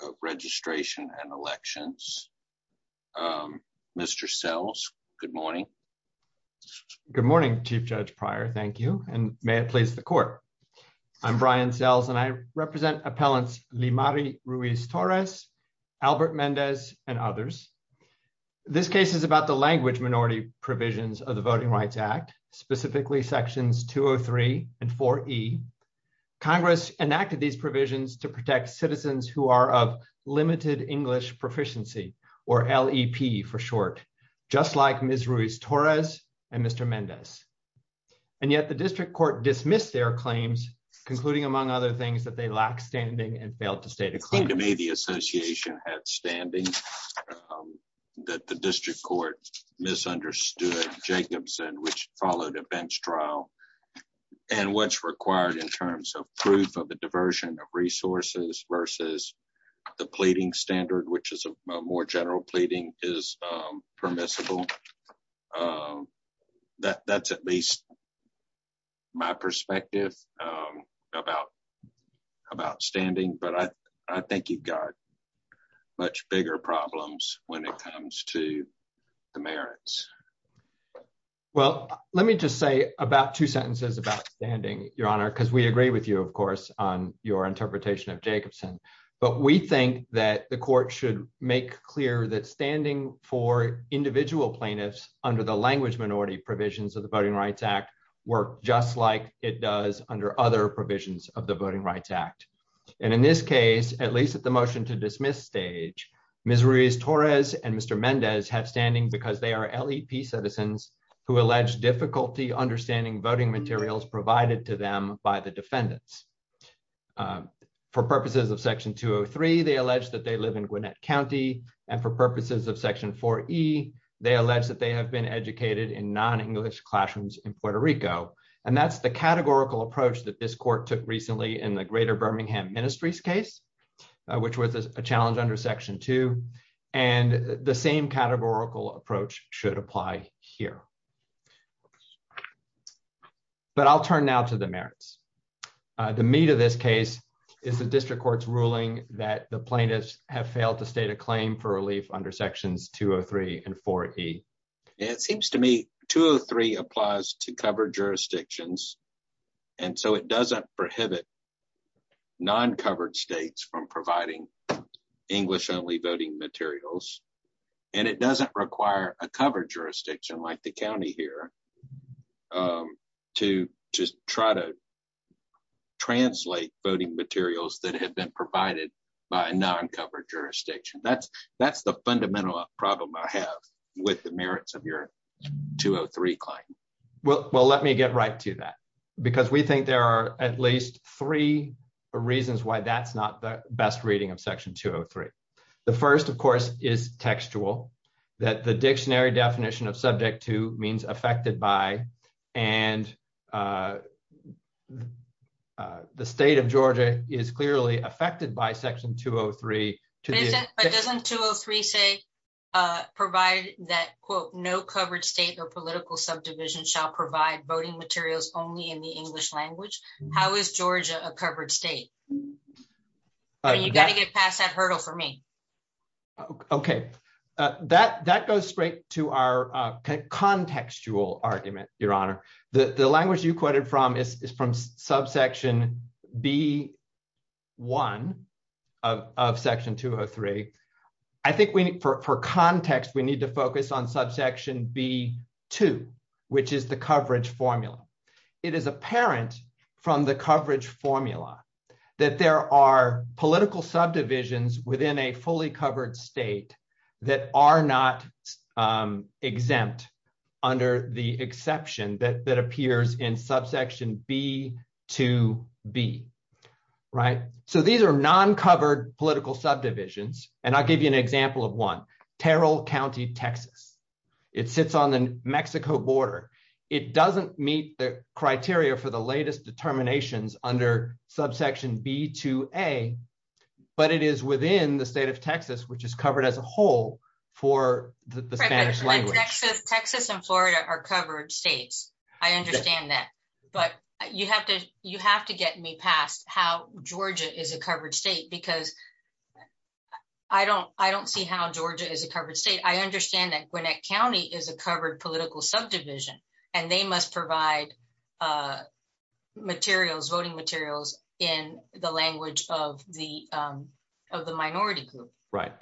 of Registration and Elections. Mr. Sells, good morning. Good morning, Chief Judge Pryor. Thank you, and may it please the court. I'm Brian Sells, and I represent appellants Limari Ruiz-Torres, has been found guilty of misdemeanor misdemeanor assault. This is about the language minority provisions of the Voting Rights Act, specifically sections 203 and 4E. Congress enacted these provisions to protect citizens who are of limited English proficiency, or LEP for short, just like Ms. Ruiz-Torres and Mr. Mendez. And yet the district court dismissed their claims, concluding among other things that they lack standing and failed to state a claim. It seemed to me the association had standing, that the district court misunderstood Jacobson, which followed a bench trial. And what's required in terms of proof of the diversion of resources versus the pleading standard, which is a more general pleading, is permissible. That's at least my perspective about standing, but I think you've got much bigger problems when it comes to the merits. Well, let me just say about two sentences about standing, Your Honor, because we agree with you, of course, on your interpretation of Jacobson. But we think that the court should make clear that standing for individual plaintiffs under the language minority provisions of the Voting Rights Act work just like it does under other provisions of the Voting Rights Act. And in this case, at least at the motion to dismiss stage, Ms. Ruiz-Torres and Mr. Mendez have standing because they are LEP citizens who allege difficulty understanding voting materials provided to them by the defendants. For purposes of Section 203, they allege that they live in Gwinnett County, and for purposes of Section 4E, they allege that they have been educated in non-English classrooms in Puerto Rico. And that's the categorical approach that this court took recently in the Greater Birmingham Ministries case, which was a challenge under Section 2, and the same categorical approach should apply here. But I'll turn now to the merits. The meat of this case is the district court's ruling that the plaintiffs have failed to state a claim for relief under Sections 203 and 4E. It seems to me 203 applies to covered jurisdictions, and so it doesn't prohibit non-covered states from providing English-only voting materials, and it doesn't require a covered jurisdiction like the county here to just try to translate voting materials that have been provided by a non-covered jurisdiction. That's the fundamental problem I have with the merits of your 203 claim. Well, let me get right to that, because we think there are at least three reasons why that's not the best reading of Section 203. The first, of course, is textual, that the dictionary definition of subject to means affected by, and the state of Georgia is clearly affected by Section 203. But doesn't 203 say, provide that, quote, no covered state or political subdivision shall provide voting materials only in the English language? How is Georgia a covered state? You've got to get past that hurdle for me. Okay. That goes straight to our contextual argument, Your Honor. The language you quoted from is from subsection B1 of Section 203. I think for context, we need to focus on subsection B2, which is the coverage formula. It is apparent from the coverage formula that there are political subdivisions within a fully covered state that are not exempt under the exception that appears in subsection B2B, right? So these are non-covered political subdivisions, and I'll give you an example of one, Terrell County, Texas. It sits on the Mexico border. It doesn't meet the criteria for the latest determinations under subsection B2A, but it is within the state of Texas, which is covered as a whole for the Spanish language. Texas and Florida are covered states. I understand that. But you have to get me past how Georgia is a covered state because I don't see how Georgia is a covered state. I understand that Gwinnett County is a covered political subdivision, and they must provide voting materials in the language of the minority group. Right.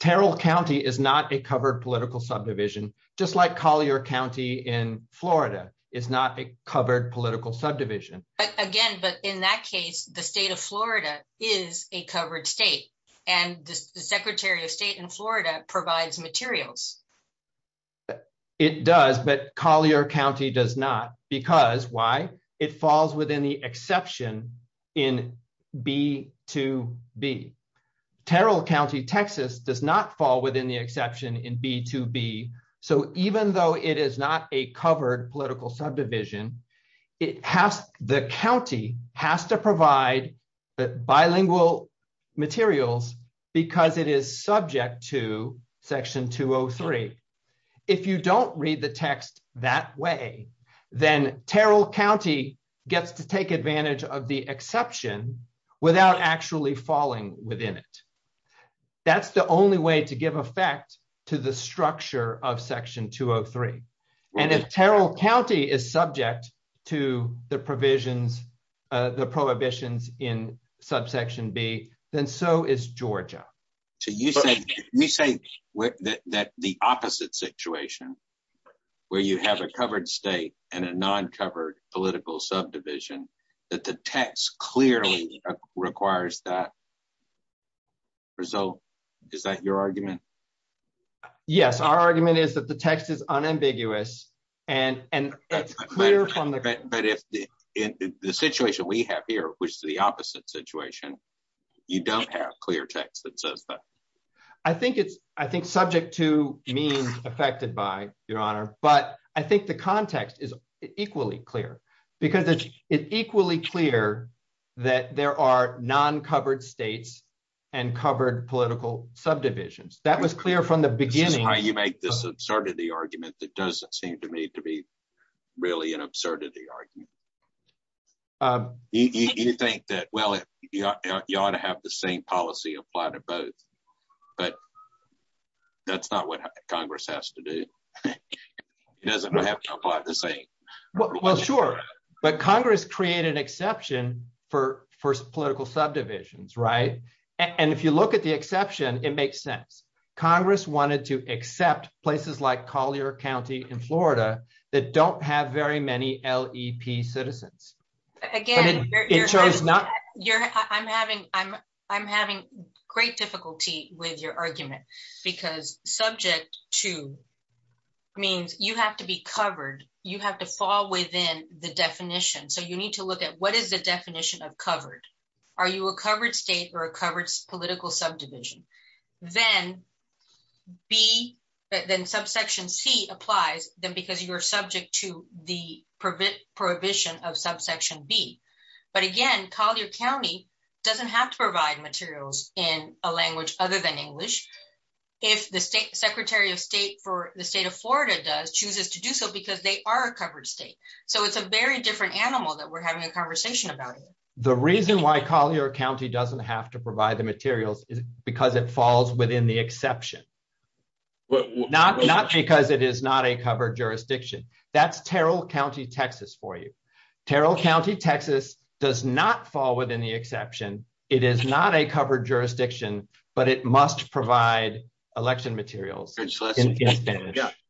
Terrell County is not a covered political subdivision, just like Collier County in Florida is not a covered political subdivision. Again, but in that case, the state of Florida is a covered state, and the Secretary of State in Florida provides materials. It does, but Collier County does not. Because why? It falls within the exception in B2B. Terrell County, Texas does not fall within the exception in B2B. So even though it is not a covered political subdivision, the county has to provide bilingual materials because it is subject to Section 203. If you don't read the text that way, then Terrell County gets to take advantage of the exception without actually falling within it. That's the only way to give effect to the structure of Section 203. And if Terrell County is subject to the prohibitions in Subsection B, then so is Georgia. You say that the opposite situation, where you have a covered state and a non-covered political subdivision, that the text clearly requires that result. Is that your argument? Yes, our argument is that the text is unambiguous. But if the situation we have here, which is the opposite situation, you don't have clear text that says that. I think it's subject to means affected by, Your Honor, but I think the context is equally clear. Because it's equally clear that there are non-covered states and covered political subdivisions. This is how you make this absurdity argument that doesn't seem to me to be really an absurdity argument. You think that, well, you ought to have the same policy applied to both. But that's not what Congress has to do. It doesn't have to apply the same. Well, sure. But Congress created an exception for political subdivisions, right? And if you look at the exception, it makes sense. Congress wanted to accept places like Collier County in Florida that don't have very many LEP citizens. Again, I'm having great difficulty with your argument. Because subject to means you have to be covered. You have to fall within the definition. So you need to look at what is the definition of covered? Are you a covered state or a covered political subdivision? Then subsection C applies because you are subject to the prohibition of subsection B. But again, Collier County doesn't have to provide materials in a language other than English. If the Secretary of State for the state of Florida chooses to do so because they are a covered state. So it's a very different animal that we're having a conversation about. The reason why Collier County doesn't have to provide the materials is because it falls within the exception. Not because it is not a covered jurisdiction. That's Terrell County, Texas for you. Terrell County, Texas does not fall within the exception. It is not a covered jurisdiction, but it must provide election materials.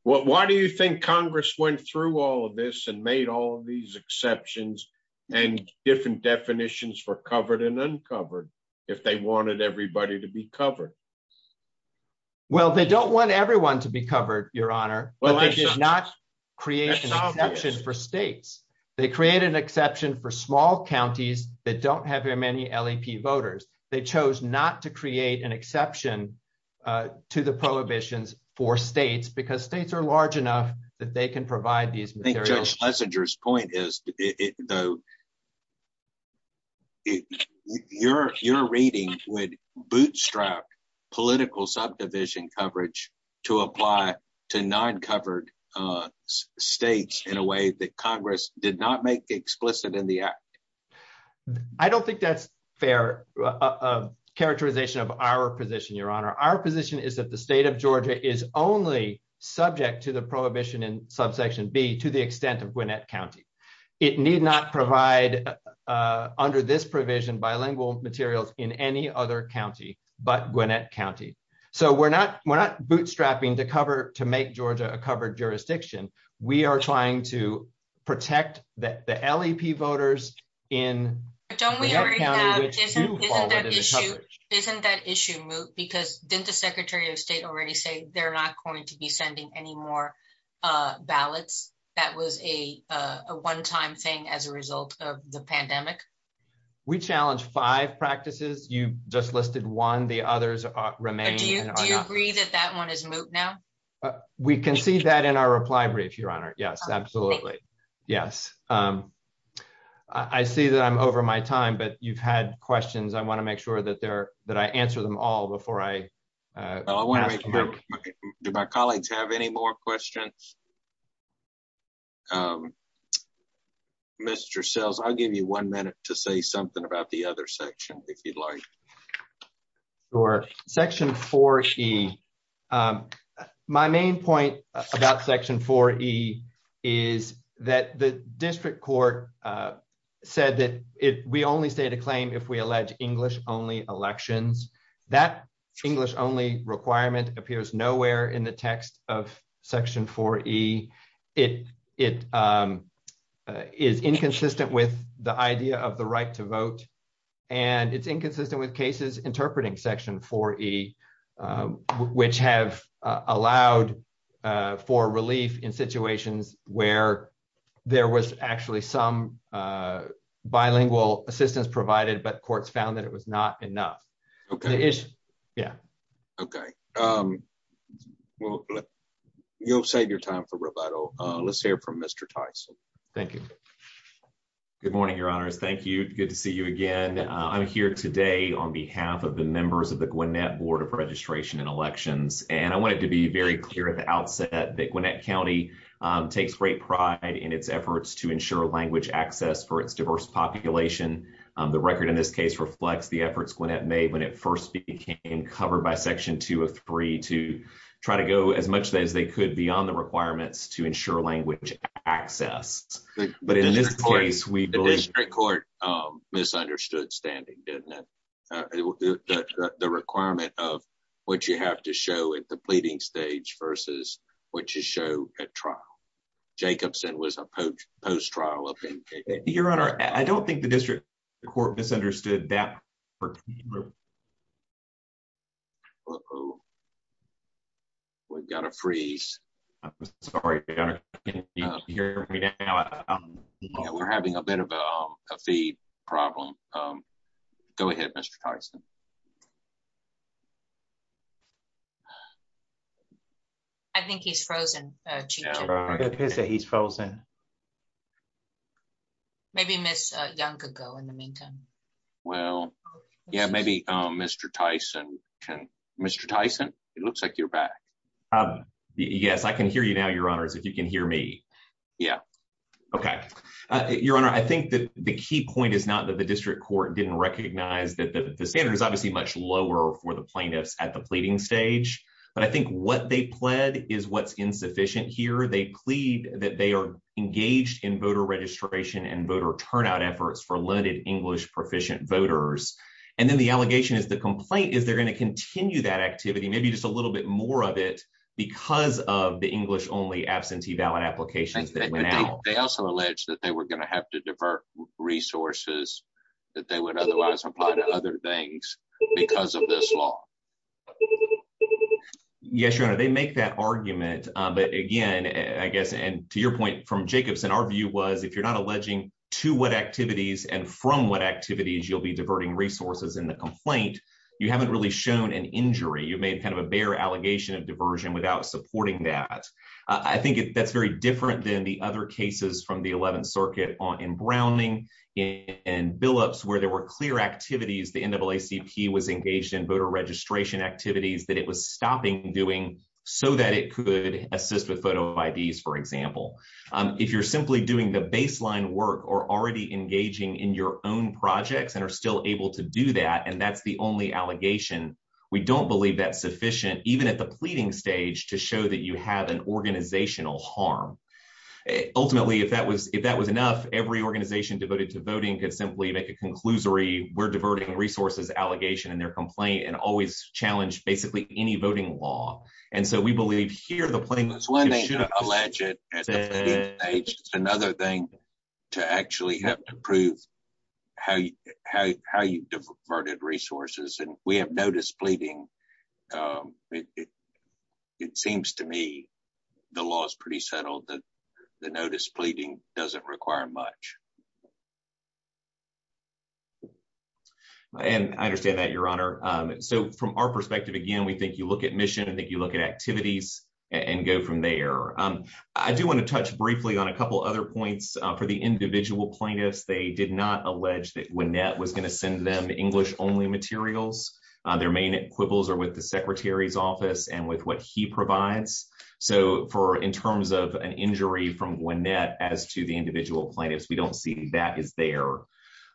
Why do you think Congress went through all of this and made all of these exceptions and different definitions for covered and uncovered if they wanted everybody to be covered? Well, they don't want everyone to be covered, Your Honor. Well, I did not create an exception for states. They create an exception for small counties that don't have very many LAP voters. They chose not to create an exception to the prohibitions for states because states are large enough that they can provide these materials. I think Judge Schlesinger's point is, though, your reading would bootstrap political subdivision coverage to apply to non-covered states in a way that Congress did not make explicit in the act. I don't think that's fair characterization of our position, Your Honor. Our position is that the state of Georgia is only subject to the prohibition in subsection B to the extent of Gwinnett County. It need not provide under this provision bilingual materials in any other county but Gwinnett County. So we're not bootstrapping to cover to make Georgia a covered jurisdiction. We are trying to protect the LAP voters in Gwinnett County which do fall under the coverage. Isn't that issue moot? Because didn't the Secretary of State already say they're not going to be sending any more ballots? That was a one-time thing as a result of the pandemic. We challenged five practices. You just listed one. The others remain. Do you agree that that one is moot now? We can see that in our reply brief, Your Honor. Yes, absolutely. Yes. I see that I'm over my time, but you've had questions. I want to make sure that I answer them all before I ask them. Do my colleagues have any more questions? Mr. Sells, I'll give you one minute to say something about the other section if you'd like. Sure. Section 4E. My main point about Section 4E is that the district court said that we only state a claim if we allege English-only elections. That English-only requirement appears nowhere in the text of Section 4E. It is inconsistent with the idea of the right to vote, and it's inconsistent with cases interpreting Section 4E, which have allowed for relief in situations where there was actually some bilingual assistance provided, but courts found that it was not enough. Okay. Yeah. Okay. You'll save your time for rebuttal. Let's hear from Mr. Tyson. Thank you. Good morning, Your Honors. Thank you. Good to see you again. I'm here today on behalf of the members of the Gwinnett Board of Registration and Elections, and I wanted to be very clear at the outset that Gwinnett County takes great pride in its efforts to ensure language access for its diverse population. The record in this case reflects the efforts Gwinnett made when it first became covered by Section 203 to try to go as much as they could beyond the requirements to ensure language access. But in this case, we believe… The district court misunderstood standing, didn't it? The requirement of what you have to show at the pleading stage versus what you show at trial. Jacobson was a post-trial opinion. Your Honor, I don't think the district court misunderstood that. Uh-oh. We've got to freeze. Sorry, Your Honor. Can you hear me now? We're having a bit of a feed problem. Go ahead, Mr. Tyson. I think he's frozen. He's frozen. Maybe Ms. Young could go in the meantime. Well, yeah, maybe Mr. Tyson can… Mr. Tyson, it looks like you're back. Yes, I can hear you now, Your Honors, if you can hear me. Yeah. Okay. Your Honor, I think that the key point is not that the district court didn't recognize that the standard is obviously much lower for the plaintiffs at the pleading stage. But I think what they pled is what's insufficient here. They plead that they are engaged in voter registration and voter turnout efforts for limited English-proficient voters. And then the allegation is the complaint is they're going to continue that activity, maybe just a little bit more of it, because of the English-only absentee ballot applications that went out. They also allege that they were going to have to divert resources that they would otherwise apply to other things because of this law. Yes, Your Honor, they make that argument. But again, I guess, and to your point from Jacobson, our view was if you're not alleging to what activities and from what activities you'll be diverting resources in the complaint, you haven't really shown an injury. You made kind of a bare allegation of diversion without supporting that. I think that's very different than the other cases from the 11th Circuit in Browning, in Billups, where there were clear activities, the NAACP was engaged in voter registration activities that it was stopping doing so that it could assist with photo IDs, for example. If you're simply doing the baseline work or already engaging in your own projects and are still able to do that, and that's the only allegation, we don't believe that's sufficient, even at the pleading stage, to show that you have an organizational harm. Ultimately, if that was enough, every organization devoted to voting could simply make a conclusory we're diverting resources allegation in their complaint and always challenge basically any voting law. And so we believe here the plaintiff should have- It's one thing to allege it at the pleading stage. It's another thing to actually have to prove how you diverted resources. And we have no displeading. It seems to me the law is pretty settled that the no displeading doesn't require much. And I understand that, Your Honor. So from our perspective, again, we think you look at mission and that you look at activities and go from there. I do want to touch briefly on a couple other points for the individual plaintiffs. They did not allege that Wynette was going to send them English only materials. Their main quibbles are with the secretary's office and with what he provides. So for in terms of an injury from Wynette as to the individual plaintiffs, we don't see that is there.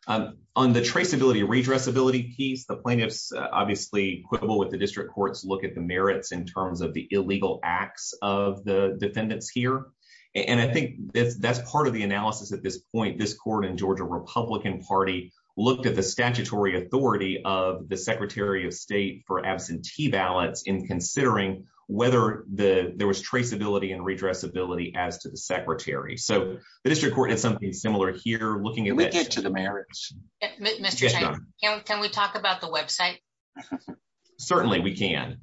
On the traceability, redressability piece, the plaintiffs obviously quibble with the district courts look at the merits in terms of the illegal acts of the defendants here. And I think that's part of the analysis at this point. This court in Georgia Republican Party looked at the statutory authority of the secretary of state for absentee ballots in considering whether there was traceability and redressability as to the secretary. So the district court had something similar here looking at- Can we get to the merits? Can we talk about the website? Certainly we can.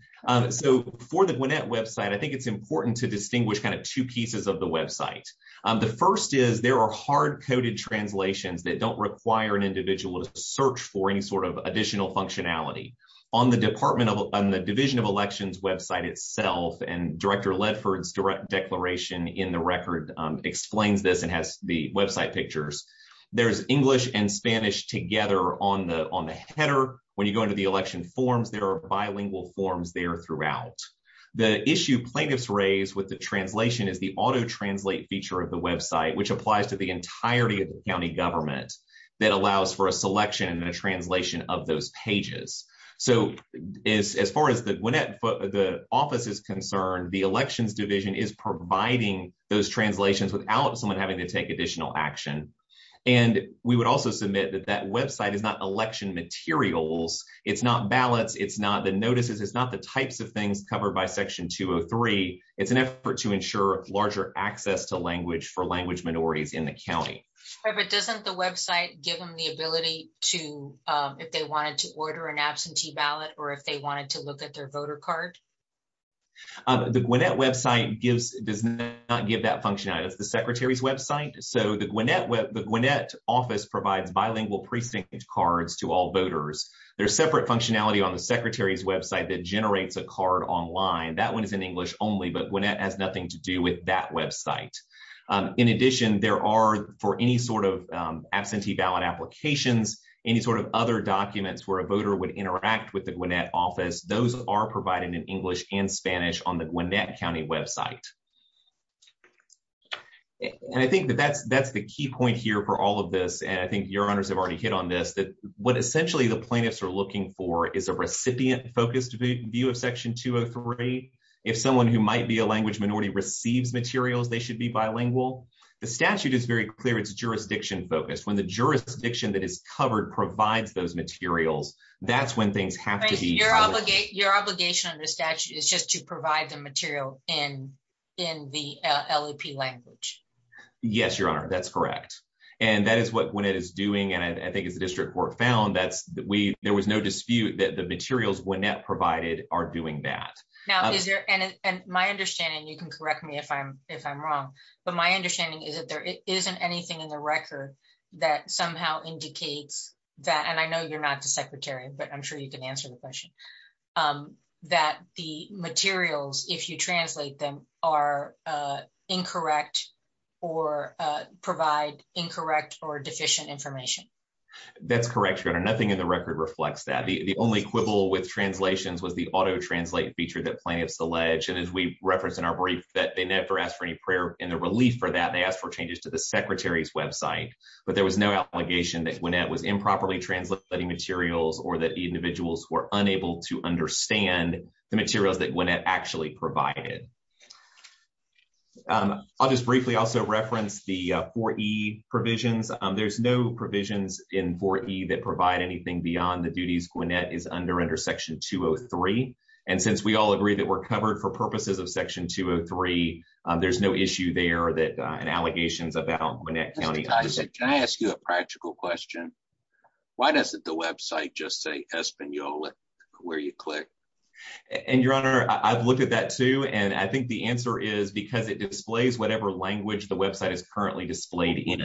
So for the Wynette website, I think it's important to distinguish kind of two pieces of the website. The first is there are hard coded translations that don't require an individual to search for any sort of additional functionality. On the Department of the Division of Elections website itself and Director Ledford's direct declaration in the record explains this and has the website pictures. There's English and Spanish together on the header. When you go into the election forms, there are bilingual forms there throughout. The issue plaintiffs raise with the translation is the auto translate feature of the website, which applies to the entirety of the county government that allows for a selection and a translation of those pages. So as far as the office is concerned, the elections division is providing those translations without someone having to take additional action. And we would also submit that that website is not election materials. It's not ballots. It's not the notices. It's not the types of things covered by Section 203. It's an effort to ensure larger access to language for language minorities in the county. But doesn't the website give them the ability to if they wanted to order an absentee ballot or if they wanted to look at their voter card? The Gwinnett website does not give that functionality. It's the secretary's website. So the Gwinnett office provides bilingual precinct cards to all voters. There's separate functionality on the secretary's website that generates a card online. That one is in English only, but Gwinnett has nothing to do with that website. In addition, there are for any sort of absentee ballot applications, any sort of other documents where a voter would interact with the Gwinnett office. Those are provided in English and Spanish on the Gwinnett County website. And I think that that's that's the key point here for all of this. And I think your honors have already hit on this, that what essentially the plaintiffs are looking for is a recipient focused view of Section 203. If someone who might be a language minority receives materials, they should be bilingual. The statute is very clear. It's jurisdiction focused. When the jurisdiction that is covered provides those materials, that's when things happen. Your obligation under statute is just to provide the material in in the LEP language. Yes, your honor. That's correct. And that is what Gwinnett is doing. And I think as the district court found that we there was no dispute that the materials Gwinnett provided are doing that. Now, is there and my understanding, you can correct me if I'm if I'm wrong, but my understanding is that there isn't anything in the record that somehow indicates that. And I know you're not the secretary, but I'm sure you can answer the question that the materials, if you translate them, are incorrect or provide incorrect or deficient information. That's correct, your honor. Nothing in the record reflects that the only quibble with translations was the auto translate feature that plaintiffs allege. And as we referenced in our brief that they never asked for any prayer in the relief for that. They asked for changes to the secretary's website, but there was no obligation that Gwinnett was improperly translating materials or that individuals were unable to understand the materials that Gwinnett actually provided. I'll just briefly also reference the 4E provisions. There's no provisions in 4E that provide anything beyond the duties Gwinnett is under under Section 203. And since we all agree that we're covered for purposes of Section 203, there's no issue there that an allegations about Gwinnett County. Can I ask you a practical question? Why doesn't the website just say Espanola where you click? And your honor, I've looked at that, too. And I think the answer is because it displays whatever language the website is currently displayed in.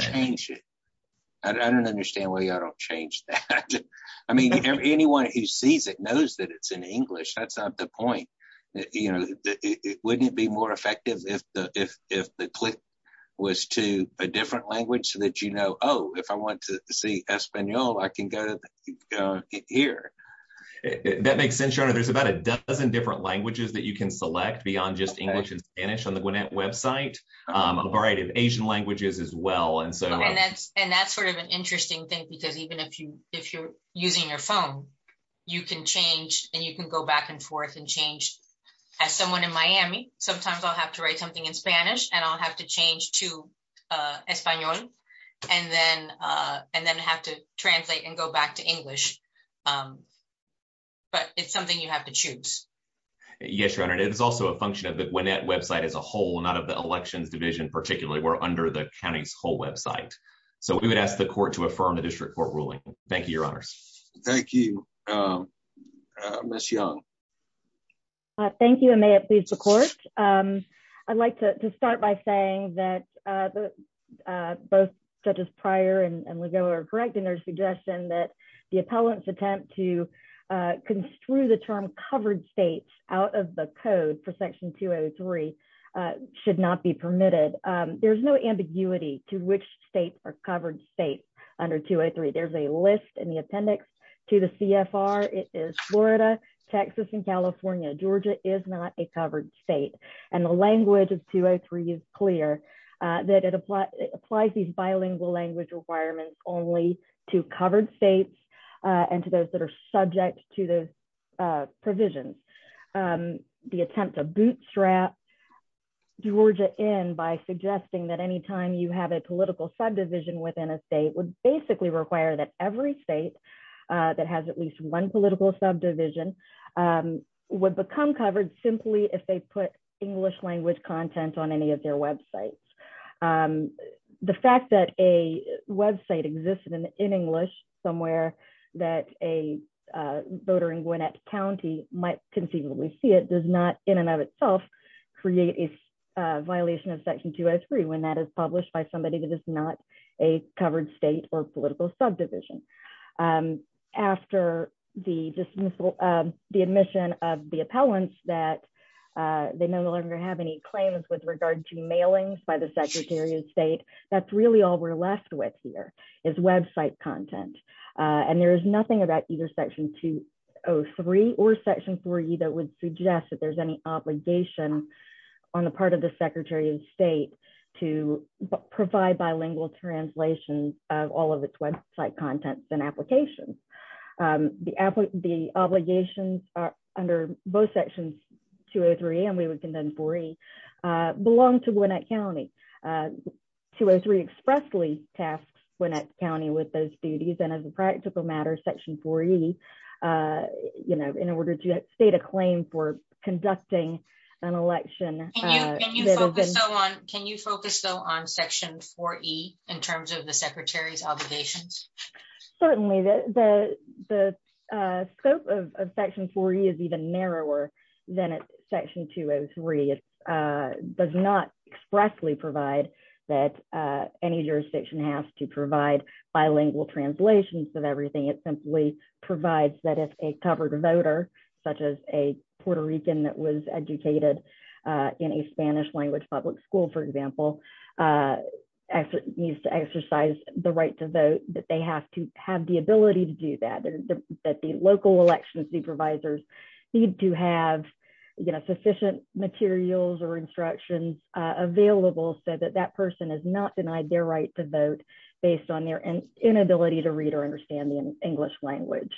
I don't understand why y'all don't change that. I mean, anyone who sees it knows that it's in English. That's not the point. You know, wouldn't it be more effective if the click was to a different language that, you know, oh, if I want to see Espanola, I can go here. That makes sense, your honor. There's about a dozen different languages that you can select beyond just English and Spanish on the Gwinnett website. A variety of Asian languages as well. And that's sort of an interesting thing, because even if you're using your phone, you can change and you can go back and forth and change. As someone in Miami, sometimes I'll have to write something in Spanish and I'll have to change to Español. And then have to translate and go back to English. But it's something you have to choose. Yes, your honor. It is also a function of the Gwinnett website as a whole, not of the elections division particularly. We're under the county's whole website. So we would ask the court to affirm the district court ruling. Thank you, your honors. Thank you. Ms. Young. Thank you. And may it please the court. I'd like to start by saying that both judges Pryor and Legault are correct in their suggestion that the appellant's attempt to construe the term covered states out of the code for section 203 should not be permitted. There's no ambiguity to which states are covered states under 203. There's a list in the appendix to the CFR. It is Florida, Texas, and California. Georgia is not a covered state. And the language of 203 is clear that it applies these bilingual language requirements only to covered states and to those that are subject to the provisions. The attempt to bootstrap Georgia in by suggesting that any time you have a political subdivision within a state would basically require that every state that has at least one political subdivision would become covered simply if they put English language content on any of their websites. The fact that a website existed in English somewhere that a voter in Gwinnett County might conceivably see it does not in and of itself, create a violation of section 203 when that is published by somebody that is not a covered state or political subdivision. After the dismissal of the admission of the appellants that they no longer have any claims with regard to mailings by the Secretary of State, that's really all we're left with here is website content. And there's nothing about either section 203 or section 40 that would suggest that there's any obligation on the part of the Secretary of State to provide bilingual translation of all of its website contents and applications. The obligations are under both sections 203 and 40 belong to Gwinnett County. 203 expressly tasks Gwinnett County with those duties and as a practical matter section 40, you know, in order to state a claim for conducting an election. Can you focus on section 40 in terms of the Secretary's obligations? Certainly, the scope of section 40 is even narrower than section 203. It does not expressly provide that any jurisdiction has to provide bilingual translations of everything it simply provides that if a covered voter, such as a Puerto Rican that was educated in a Spanish language public school, for example. needs to exercise the right to vote that they have to have the ability to do that, that the local election supervisors need to have you know sufficient materials or instructions available so that that person is not denied their right to vote, based on their inability to read or understand the English language.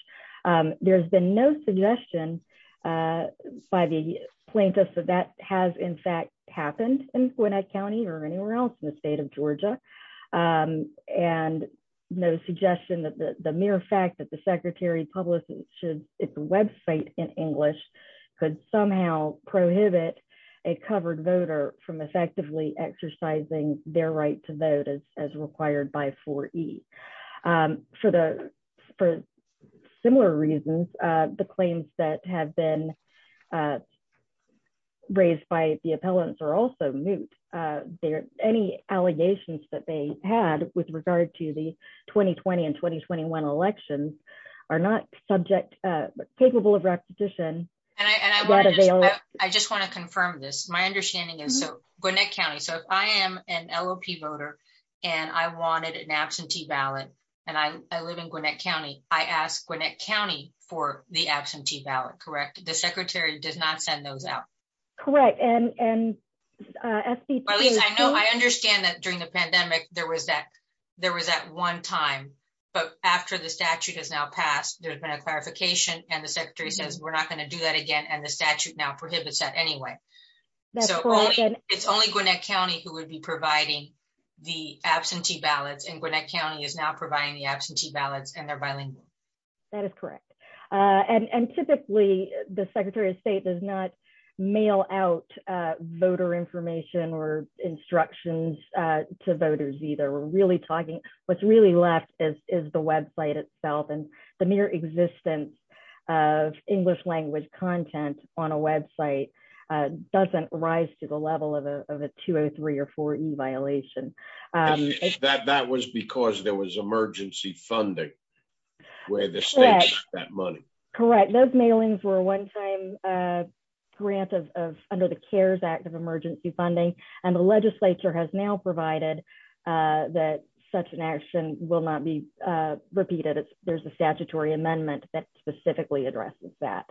There's been no suggestion by the plaintiffs that that has in fact happened in Gwinnett County or anywhere else in the state of Georgia. And no suggestion that the mere fact that the Secretary publishes its website in English could somehow prohibit a covered voter from effectively exercising their right to vote as required by 4E. For similar reasons, the claims that have been raised by the appellants are also moot. Any allegations that they had with regard to the 2020 and 2021 elections are not subject, capable of repetition. And I just want to confirm this. My understanding is so Gwinnett County. So if I am an LOP voter and I wanted an absentee ballot, and I live in Gwinnett County, I asked Gwinnett County for the absentee ballot, correct? The Secretary does not send those out. I understand that during the pandemic, there was that one time, but after the statute has now passed, there's been a clarification and the Secretary says we're not going to do that again and the statute now prohibits that anyway. So it's only Gwinnett County who would be providing the absentee ballots and Gwinnett County is now providing the absentee ballots and they're bilingual. That is correct. And typically, the Secretary of State does not mail out voter information or instructions to voters either. What's really left is the website itself and the mere existence of English language content on a website doesn't rise to the level of a 203 or 4E violation. That was because there was emergency funding where the state got that money. Correct. Those mailings were one time granted under the CARES Act of emergency funding and the legislature has now provided that such an action will not be repeated. There's a statutory amendment that specifically addresses that.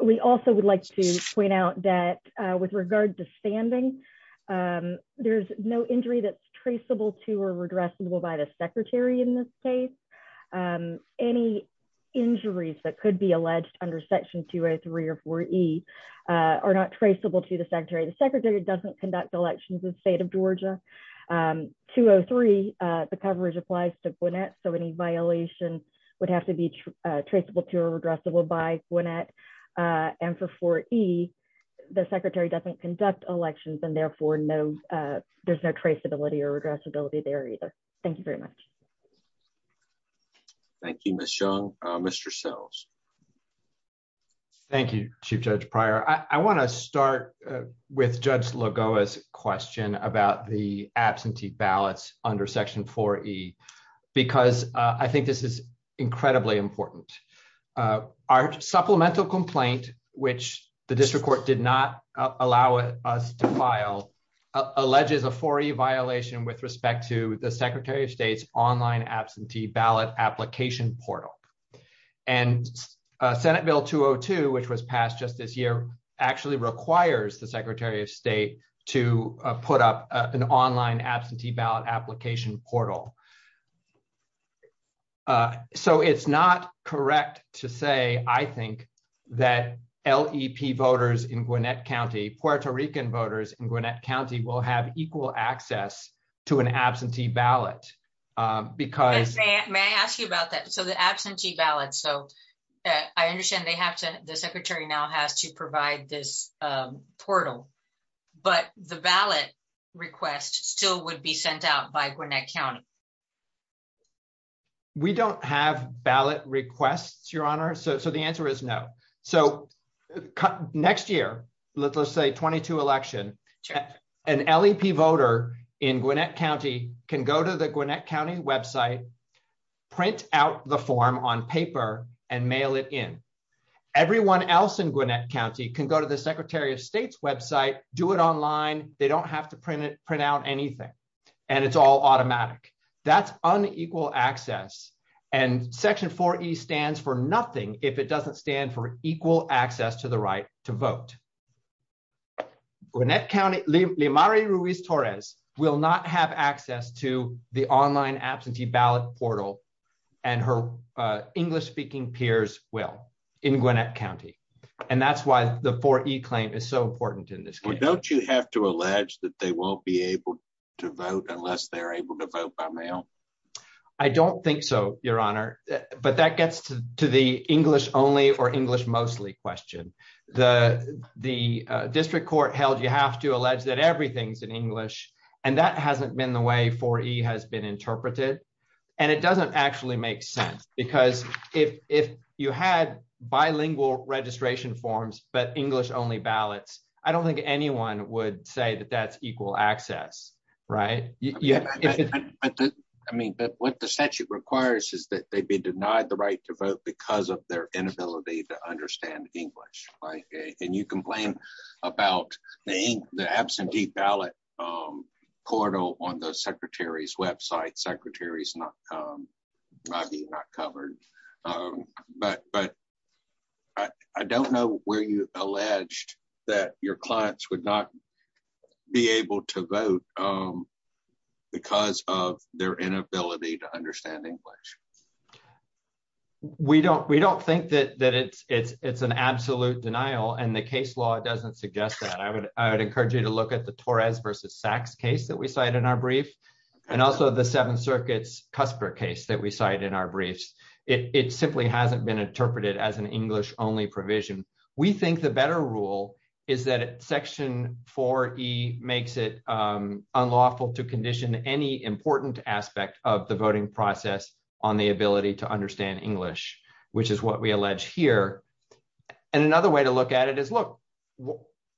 We also would like to point out that with regard to standing, there's no injury that's traceable to or redressable by the Secretary in this case. Any injuries that could be alleged under Section 203 or 4E are not traceable to the Secretary. The Secretary doesn't conduct elections in the state of Georgia. 203, the coverage applies to Gwinnett so any violations would have to be traceable to or redressable by Gwinnett. And for 4E, the Secretary doesn't conduct elections and therefore there's no traceability or redressability there either. Thank you very much. Thank you, Ms. Young. Mr. Sells. Thank you, Chief Judge Pryor. I want to start with Judge Lagoa's question about the absentee ballots under Section 4E because I think this is incredibly important. Our supplemental complaint, which the district court did not allow us to file, alleges a 4E violation with respect to the Secretary of State's online absentee ballot application portal. And Senate Bill 202, which was passed just this year, actually requires the Secretary of State to put up an online absentee ballot application portal. So it's not correct to say, I think, that LEP voters in Gwinnett County, Puerto Rican voters in Gwinnett County, will have equal access to an absentee ballot because May I ask you about that? So the absentee ballots, so I understand they have to, the Secretary now has to provide this portal, but the ballot request still would be sent out by Gwinnett County. We don't have ballot requests, Your Honor, so the answer is no. So next year, let's say 22 election, an LEP voter in Gwinnett County can go to the Gwinnett County website, print out the form on paper, and mail it in. Everyone else in Gwinnett County can go to the Secretary of State's website, do it online, they don't have to print it, print out anything, and it's all automatic. That's unequal access, and Section 4E stands for nothing if it doesn't stand for equal access to the right to vote. Lymari Ruiz-Torres will not have access to the online absentee ballot portal, and her English-speaking peers will, in Gwinnett County, and that's why the 4E claim is so important in this case. Don't you have to allege that they won't be able to vote unless they're able to vote by mail? I don't think so, Your Honor, but that gets to the English-only or English-mostly question. The district court held you have to allege that everything's in English, and that hasn't been the way 4E has been interpreted, and it doesn't actually make sense, because if you had bilingual registration forms but English-only ballots, I don't think anyone would say that that's equal access, right? I mean, what the statute requires is that they be denied the right to vote because of their inability to understand English, and you complain about the absentee ballot portal on the Secretary's website. The Secretary's not covered, but I don't know where you allege that your clients would not be able to vote because of their inability to understand English. We don't think that it's an absolute denial, and the case law doesn't suggest that. I would encourage you to look at the Torres v. Sachs case that we cite in our brief, and also the Seventh Circuit's Cusper case that we cite in our briefs. It simply hasn't been interpreted as an English-only provision. We think the better rule is that Section 4E makes it unlawful to condition any important aspect of the voting process on the ability to understand English, which is what we allege here. And another way to look at it is, look,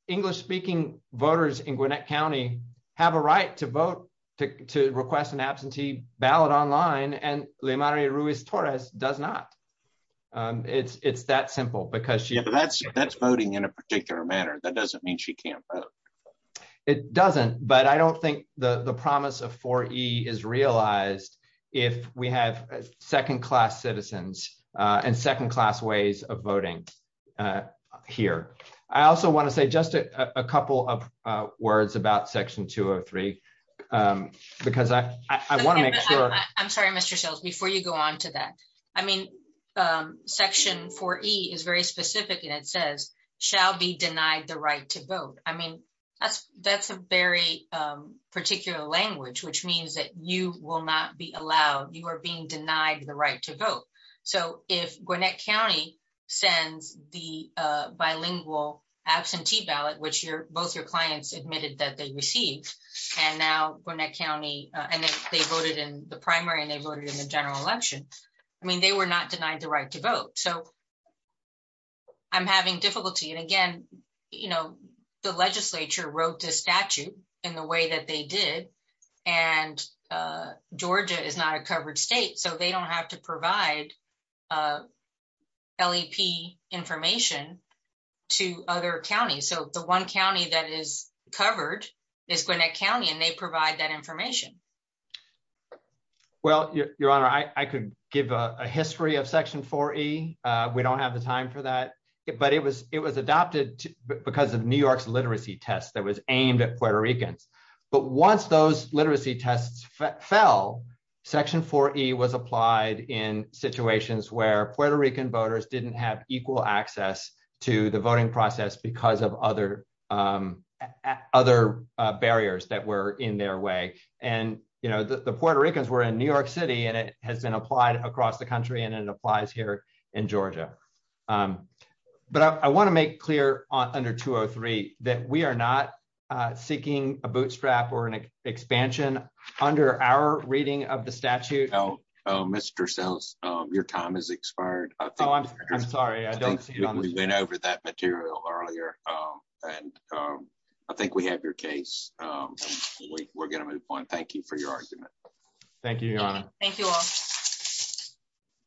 English-speaking voters in Gwinnett County have a right to vote to request an absentee ballot online, and Leymari Ruiz-Torres does not. It's that simple. Yeah, but that's voting in a particular manner. That doesn't mean she can't vote. It doesn't, but I don't think the promise of 4E is realized if we have second-class citizens and second-class ways of voting here. I also want to say just a couple of words about Section 203, because I want to make sure— Section 4E is very specific, and it says, shall be denied the right to vote. I mean, that's a very particular language, which means that you will not be allowed—you are being denied the right to vote. So if Gwinnett County sends the bilingual absentee ballot, which both your clients admitted that they received, and now Gwinnett County—and they voted in the primary and they voted in the general election, I mean, they were not denied the right to vote. So I'm having difficulty, and again, the legislature wrote this statute in the way that they did, and Georgia is not a covered state, so they don't have to provide LEP information to other counties. So the one county that is covered is Gwinnett County, and they provide that information. Well, Your Honor, I could give a history of Section 4E. We don't have the time for that, but it was adopted because of New York's literacy test that was aimed at Puerto Ricans. But once those literacy tests fell, Section 4E was applied in situations where Puerto Rican voters didn't have equal access to the voting process because of other barriers that were in their way. And, you know, the Puerto Ricans were in New York City, and it has been applied across the country, and it applies here in Georgia. But I want to make clear under Section 203 that we are not seeking a bootstrap or an expansion under our reading of the statute. Mr. Sells, your time has expired. Oh, I'm sorry. I think we went over that material earlier, and I think we have your case. We're going to move on. Thank you for your argument. Thank you, Your Honor. Thank you all.